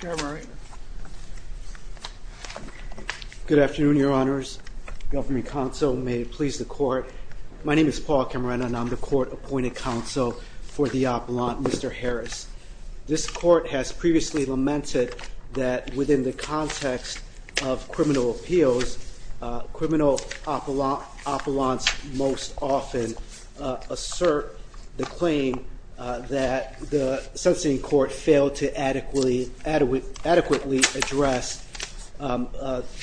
Good afternoon, Your Honors. Government Counsel, may it please the Court. My name is Paul Camarena, and I'm the Court Appointed Counsel for the Appellant, Mr. Harris. This Court has previously lamented that within the context of criminal appeals, criminal appellants most often assert the claim that the sentencing court failed to adequately address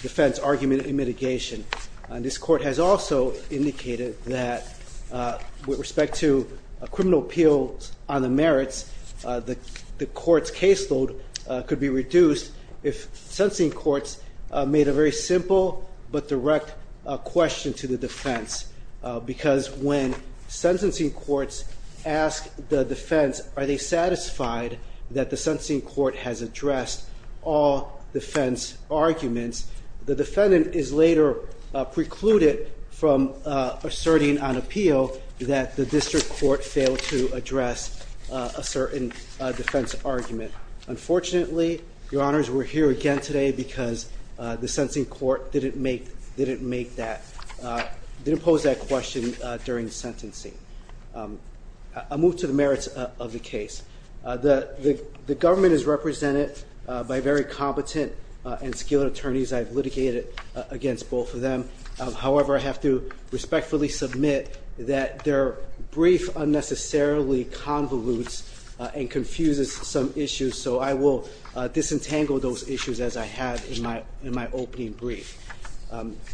defense argument in mitigation. This Court has also indicated that with respect to criminal appeals on the merits, the Court's caseload could be reduced if sentencing courts made a very simple but direct question to the defense. Because when sentencing courts ask the defense, are they satisfied that the sentencing court has addressed all defense arguments, the defendant is later precluded from asserting on appeal that the district court failed to address a certain defense argument. Unfortunately, Your Honors, we're here again today because the sentencing court didn't pose that question during sentencing. I'll move to the merits of the case. The government is represented by very competent and skilled attorneys. I've litigated against both of them. However, I have to respectfully submit that their brief unnecessarily convolutes and confuses some issues, so I will disentangle those issues as I have in my opening brief.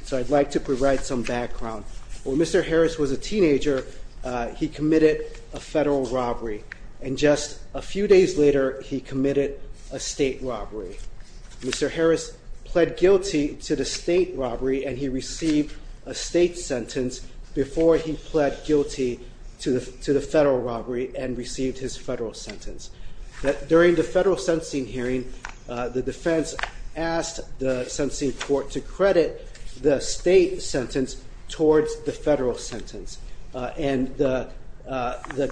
So I'd like to provide some background. When Mr. Harris was a teenager, he committed a federal robbery, and just a few days later, he committed a state robbery. Mr. Harris pled guilty to the state robbery, and he received a state sentence before he pled guilty to the federal robbery and received his federal sentence. During the federal sentencing hearing, the defense asked the sentencing court to credit the state sentence towards the federal sentence. The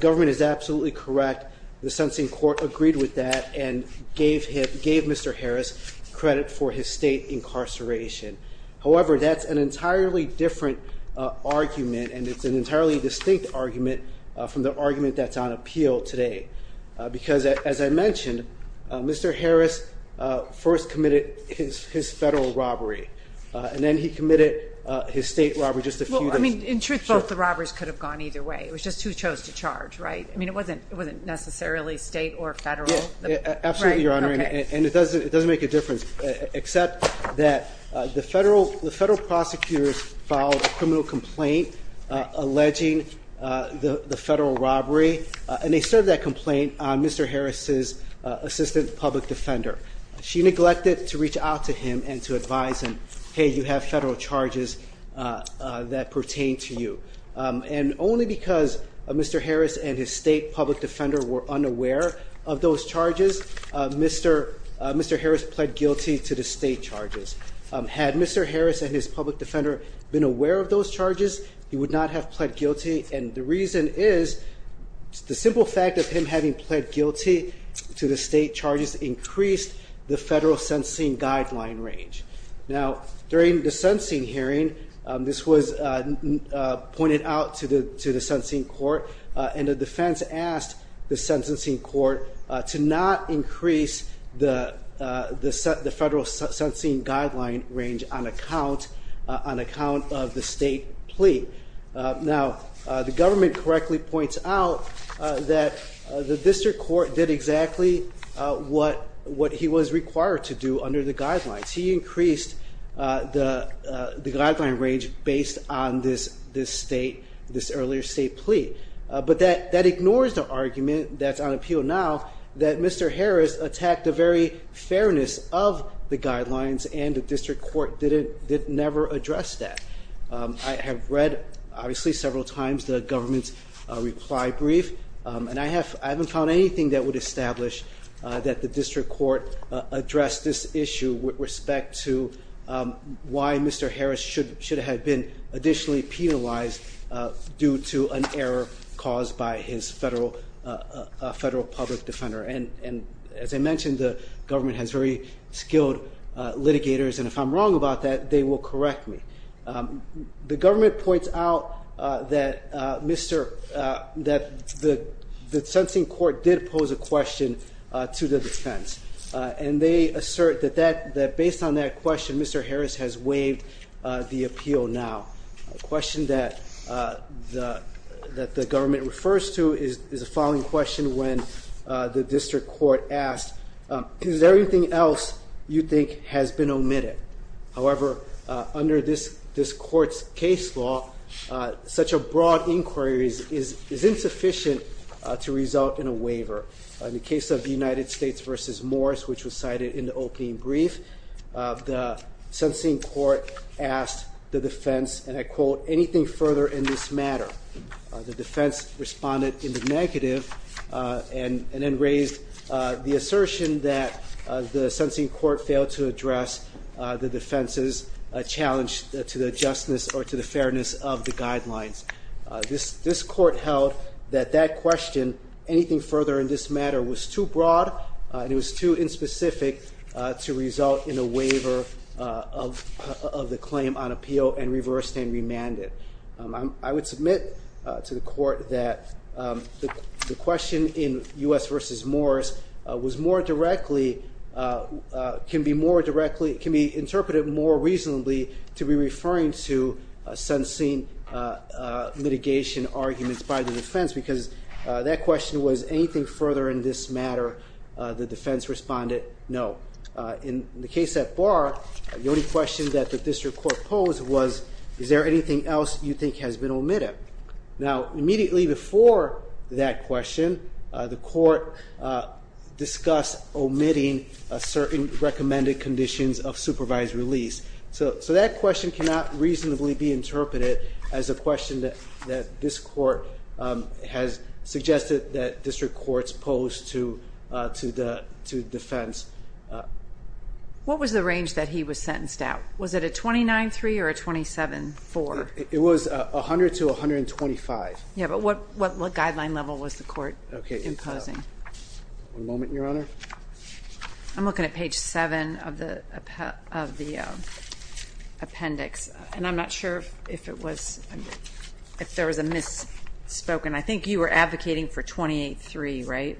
government is absolutely correct. The sentencing court agreed with that and gave Mr. Harris credit for his state incarceration. However, that's an entirely different argument, and it's an entirely distinct argument from the argument that's on appeal today. Because, as I mentioned, Mr. Harris first committed his federal robbery, and then he committed his state robbery just a few days later. In truth, both the robberies could have gone either way. It was just who chose to charge, right? I mean, it wasn't necessarily state or federal. Absolutely, Your Honor, and it doesn't make a difference, except that the federal prosecutors filed a criminal complaint alleging the federal robbery, and they served that complaint on Mr. Harris's assistant public defender. She neglected to reach out to him and to advise him, hey, you have federal charges that pertain to you. And only because Mr. Harris and his state public defender were unaware of those charges, Mr. Harris pled guilty to the state charges. Had Mr. Harris and his public defender been aware of those charges, he would not have pled guilty, and the reason is the simple fact of him having pled guilty to the state charges increased the federal sentencing guideline range. Now, during the sentencing hearing, this was pointed out to the sentencing court, and the defense asked the sentencing court to not increase the federal sentencing guideline range on account of the state plea. Now, the government correctly points out that the district court did exactly what he was required to do under the guidelines. He increased the guideline range based on this earlier state plea. But that ignores the argument that's on appeal now that Mr. Harris attacked the very fairness of the guidelines, and the district court did never address that. I have read, obviously, several times the government's reply brief, and I haven't found anything that would establish that the district court addressed this issue with respect to why Mr. Harris should have been additionally penalized due to an error caused by his federal public defender. And as I mentioned, the government has very skilled litigators, and if I'm wrong about that, they will correct me. The government points out that the sentencing court did pose a question to the defense, and they assert that based on that question, Mr. Harris has waived the appeal now. The question that the government refers to is the following question when the district court asked, is there anything else you think has been omitted? However, under this court's case law, such a broad inquiry is insufficient to result in a waiver. In the case of the United States v. Morris, which was cited in the opening brief, the sentencing court asked the defense, and I quote, anything further in this matter. The defense responded in the negative and then raised the assertion that the sentencing court failed to address the defense's challenge to the justness or to the fairness of the guidelines. This court held that that question, anything further in this matter, was too broad and it was too inspecific to result in a waiver of the claim on appeal and reversed and remanded. I would submit to the court that the question in U.S. v. Morris was more directly, can be interpreted more reasonably to be referring to sentencing litigation arguments by the defense because that question was anything further in this matter, the defense responded no. In the case at Barr, the only question that the district court posed was, is there anything else you think has been omitted? Now, immediately before that question, the court discussed omitting certain recommended conditions of supervised release. So that question cannot reasonably be interpreted as a question that this court has suggested that district courts pose to defense. What was the range that he was sentenced at? Was it a 29-3 or a 27-4? It was 100 to 125. Yeah, but what guideline level was the court imposing? One moment, Your Honor. I'm looking at page 7 of the appendix, and I'm not sure if there was a misspoken. I think you were advocating for 28-3, right?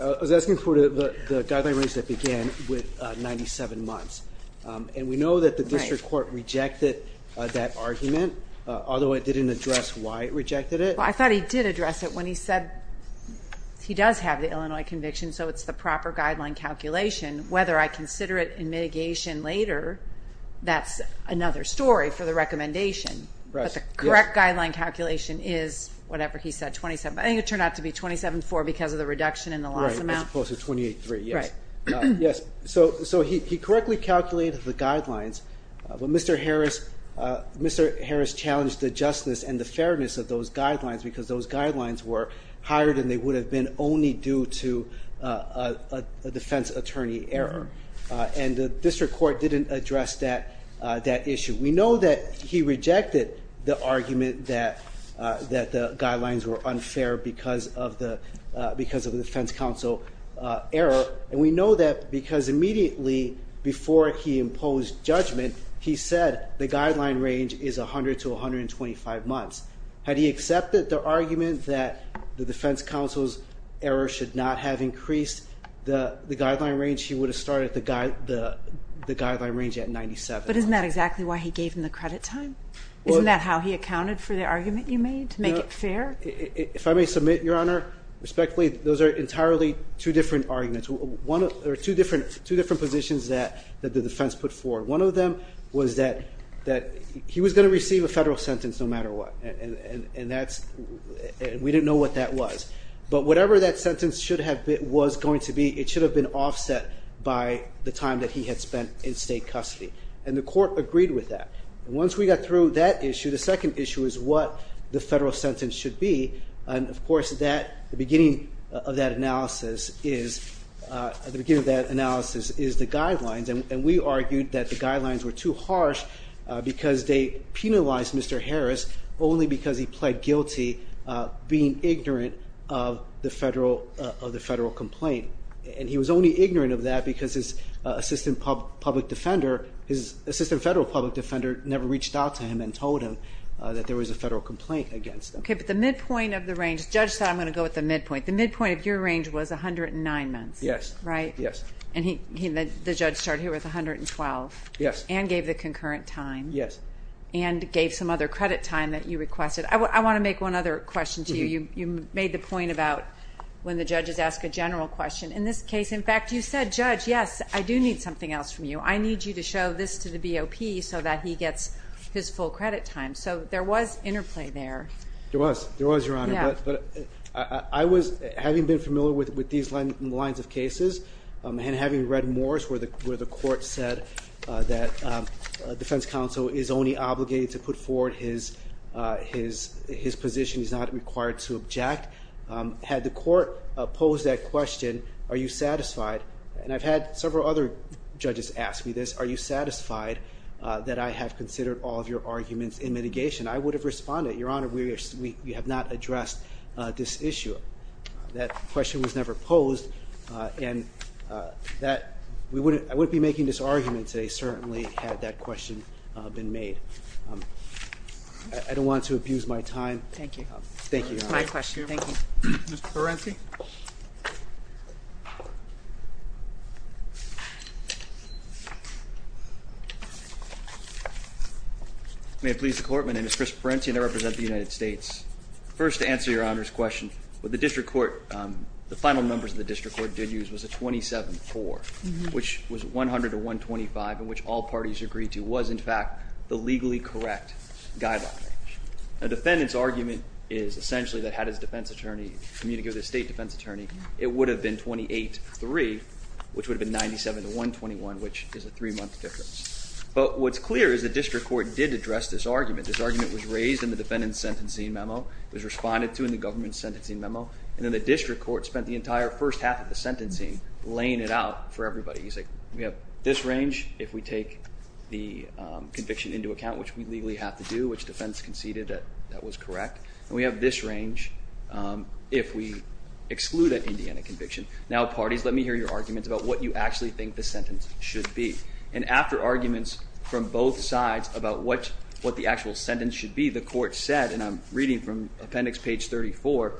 I was asking for the guideline range that began with 97 months. And we know that the district court rejected that argument, although it didn't address why it rejected it. I thought he did address it when he said he does have the Illinois conviction, so it's the proper guideline calculation. Whether I consider it in mitigation later, that's another story for the recommendation. But the correct guideline calculation is whatever he said, 27. I think it turned out to be 27-4 because of the reduction in the loss amount. Right, as opposed to 28-3, yes. So he correctly calculated the guidelines, but Mr. Harris challenged the justness and the fairness of those guidelines because those guidelines were higher than they would have been only due to a defense attorney error. And the district court didn't address that issue. We know that he rejected the argument that the guidelines were unfair because of the defense counsel error. And we know that because immediately before he imposed judgment, he said the guideline range is 100 to 125 months. Had he accepted the argument that the defense counsel's error should not have increased the guideline range, he would have started the guideline range at 97 months. But isn't that exactly why he gave him the credit time? Isn't that how he accounted for the argument you made to make it fair? If I may submit, Your Honor, respectfully, those are entirely two different positions that the defense put forward. One of them was that he was going to receive a federal sentence no matter what, and we didn't know what that was. But whatever that sentence was going to be, it should have been offset by the time that he had spent in state custody. And the court agreed with that. And once we got through that issue, the second issue is what the federal sentence should be. And, of course, the beginning of that analysis is the guidelines. And we argued that the guidelines were too harsh because they penalized Mr. Harris only because he pled guilty, being ignorant of the federal complaint. And he was only ignorant of that because his assistant public defender, his assistant federal public defender, never reached out to him and told him that there was a federal complaint against him. Okay, but the midpoint of the range, the judge said I'm going to go with the midpoint. The midpoint of your range was 109 months, right? Yes. And the judge started here with 112. Yes. And gave the concurrent time. Yes. And gave some other credit time that you requested. I want to make one other question to you. You made the point about when the judges ask a general question. In this case, in fact, you said, Judge, yes, I do need something else from you. I need you to show this to the BOP so that he gets his full credit time. So there was interplay there. There was. There was, Your Honor. But I was, having been familiar with these lines of cases, and having read mores where the court said that defense counsel is only obligated to put forward his position. He's not required to object. Had the court posed that question, are you satisfied? And I've had several other judges ask me this. Are you satisfied that I have considered all of your arguments in mitigation? I would have responded, Your Honor, we have not addressed this issue. That question was never posed. And I wouldn't be making this argument today certainly had that question been made. I don't want to abuse my time. Thank you. Thank you, Your Honor. That's my question. Thank you. Mr. Parenti? May it please the Court? My name is Chris Parenti, and I represent the United States. First, to answer Your Honor's question, what the district court, the final numbers that the district court did use was a 27-4, which was 100-125, and which all parties agreed to was, in fact, the legally correct guideline. A defendant's argument is essentially that had his defense attorney communicated with his state defense attorney, it would have been 28-3, which would have been 97-121, which is a three-month difference. But what's clear is the district court did address this argument. This argument was raised in the defendant's sentencing memo. It was responded to in the government's sentencing memo. And then the district court spent the entire first half of the sentencing laying it out for everybody. He's like, we have this range if we take the conviction into account, which we legally have to do, which defense conceded that that was correct, and we have this range if we exclude an Indiana conviction. Now, parties, let me hear your arguments about what you actually think the sentence should be. And after arguments from both sides about what the actual sentence should be, the court said, and I'm reading from appendix page 34,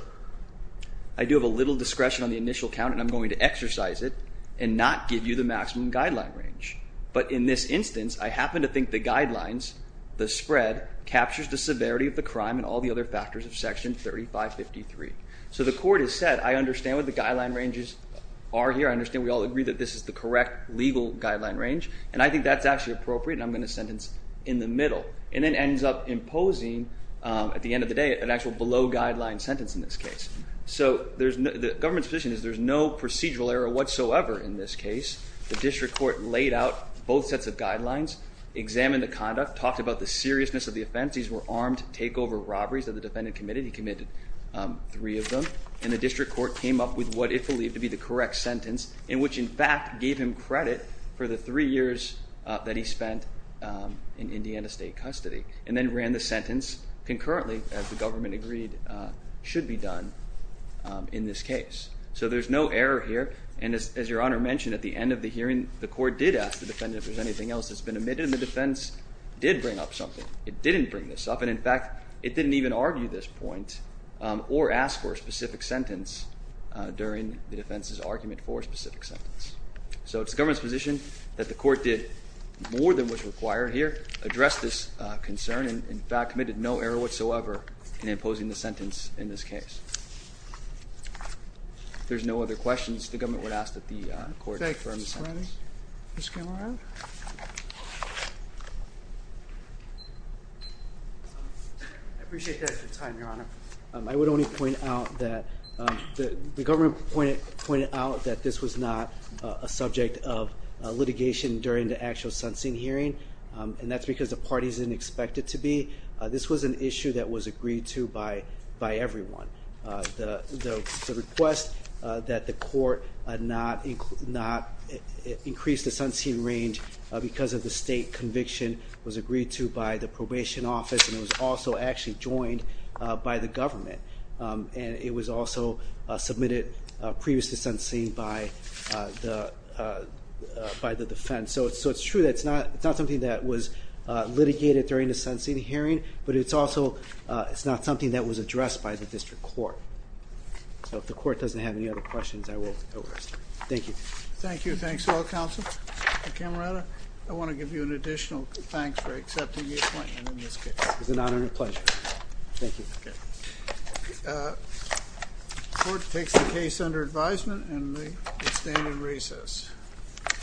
I do have a little discretion on the initial count, and I'm going to exercise it and not give you the maximum guideline range. But in this instance, I happen to think the guidelines, the spread, captures the severity of the crime and all the other factors of section 3553. So the court has said, I understand what the guideline ranges are here. I understand we all agree that this is the correct legal guideline range, and I think that's actually appropriate, and I'm going to sentence in the middle. And it ends up imposing, at the end of the day, an actual below-guideline sentence in this case. So the government's position is there's no procedural error whatsoever in this case. The district court laid out both sets of guidelines, examined the conduct, talked about the seriousness of the offense. These were armed takeover robberies that the defendant committed. He committed three of them, and the district court came up with what it believed to be the correct sentence, in which, in fact, gave him credit for the three years that he spent in Indiana State custody, and then ran the sentence concurrently, as the government agreed should be done in this case. So there's no error here, and as Your Honor mentioned, at the end of the hearing, the court did ask the defendant if there was anything else that's been omitted, and the defense did bring up something. It didn't bring this up, and in fact, it didn't even argue this point or ask for a specific sentence during the defense's argument for a specific sentence. So it's the government's position that the court did more than what's required here, addressed this concern, and, in fact, committed no error whatsoever in imposing the sentence in this case. If there's no other questions, the government would ask that the court confirm the sentence. Ms. Cameron? I appreciate the extra time, Your Honor. I would only point out that the government pointed out that this was not a subject of litigation during the actual sentencing hearing, and that's because the parties didn't expect it to be. This was an issue that was agreed to by everyone. The request that the court not increase the sentencing range because of the state conviction was agreed to by the probation office, and it was also actually joined by the government, and it was also submitted previously sentencing by the defense. So it's true that it's not something that was litigated during the sentencing hearing, but it's also not something that was addressed by the district court. So if the court doesn't have any other questions, I will go over it. Thank you. Thank you. Thanks to all counsel. Ms. Cameron, I want to give you an additional thanks for accepting the appointment in this case. It was an honor and a pleasure. Thank you. The court takes the case under advisement and may stand in recess. Thank you. Thank you.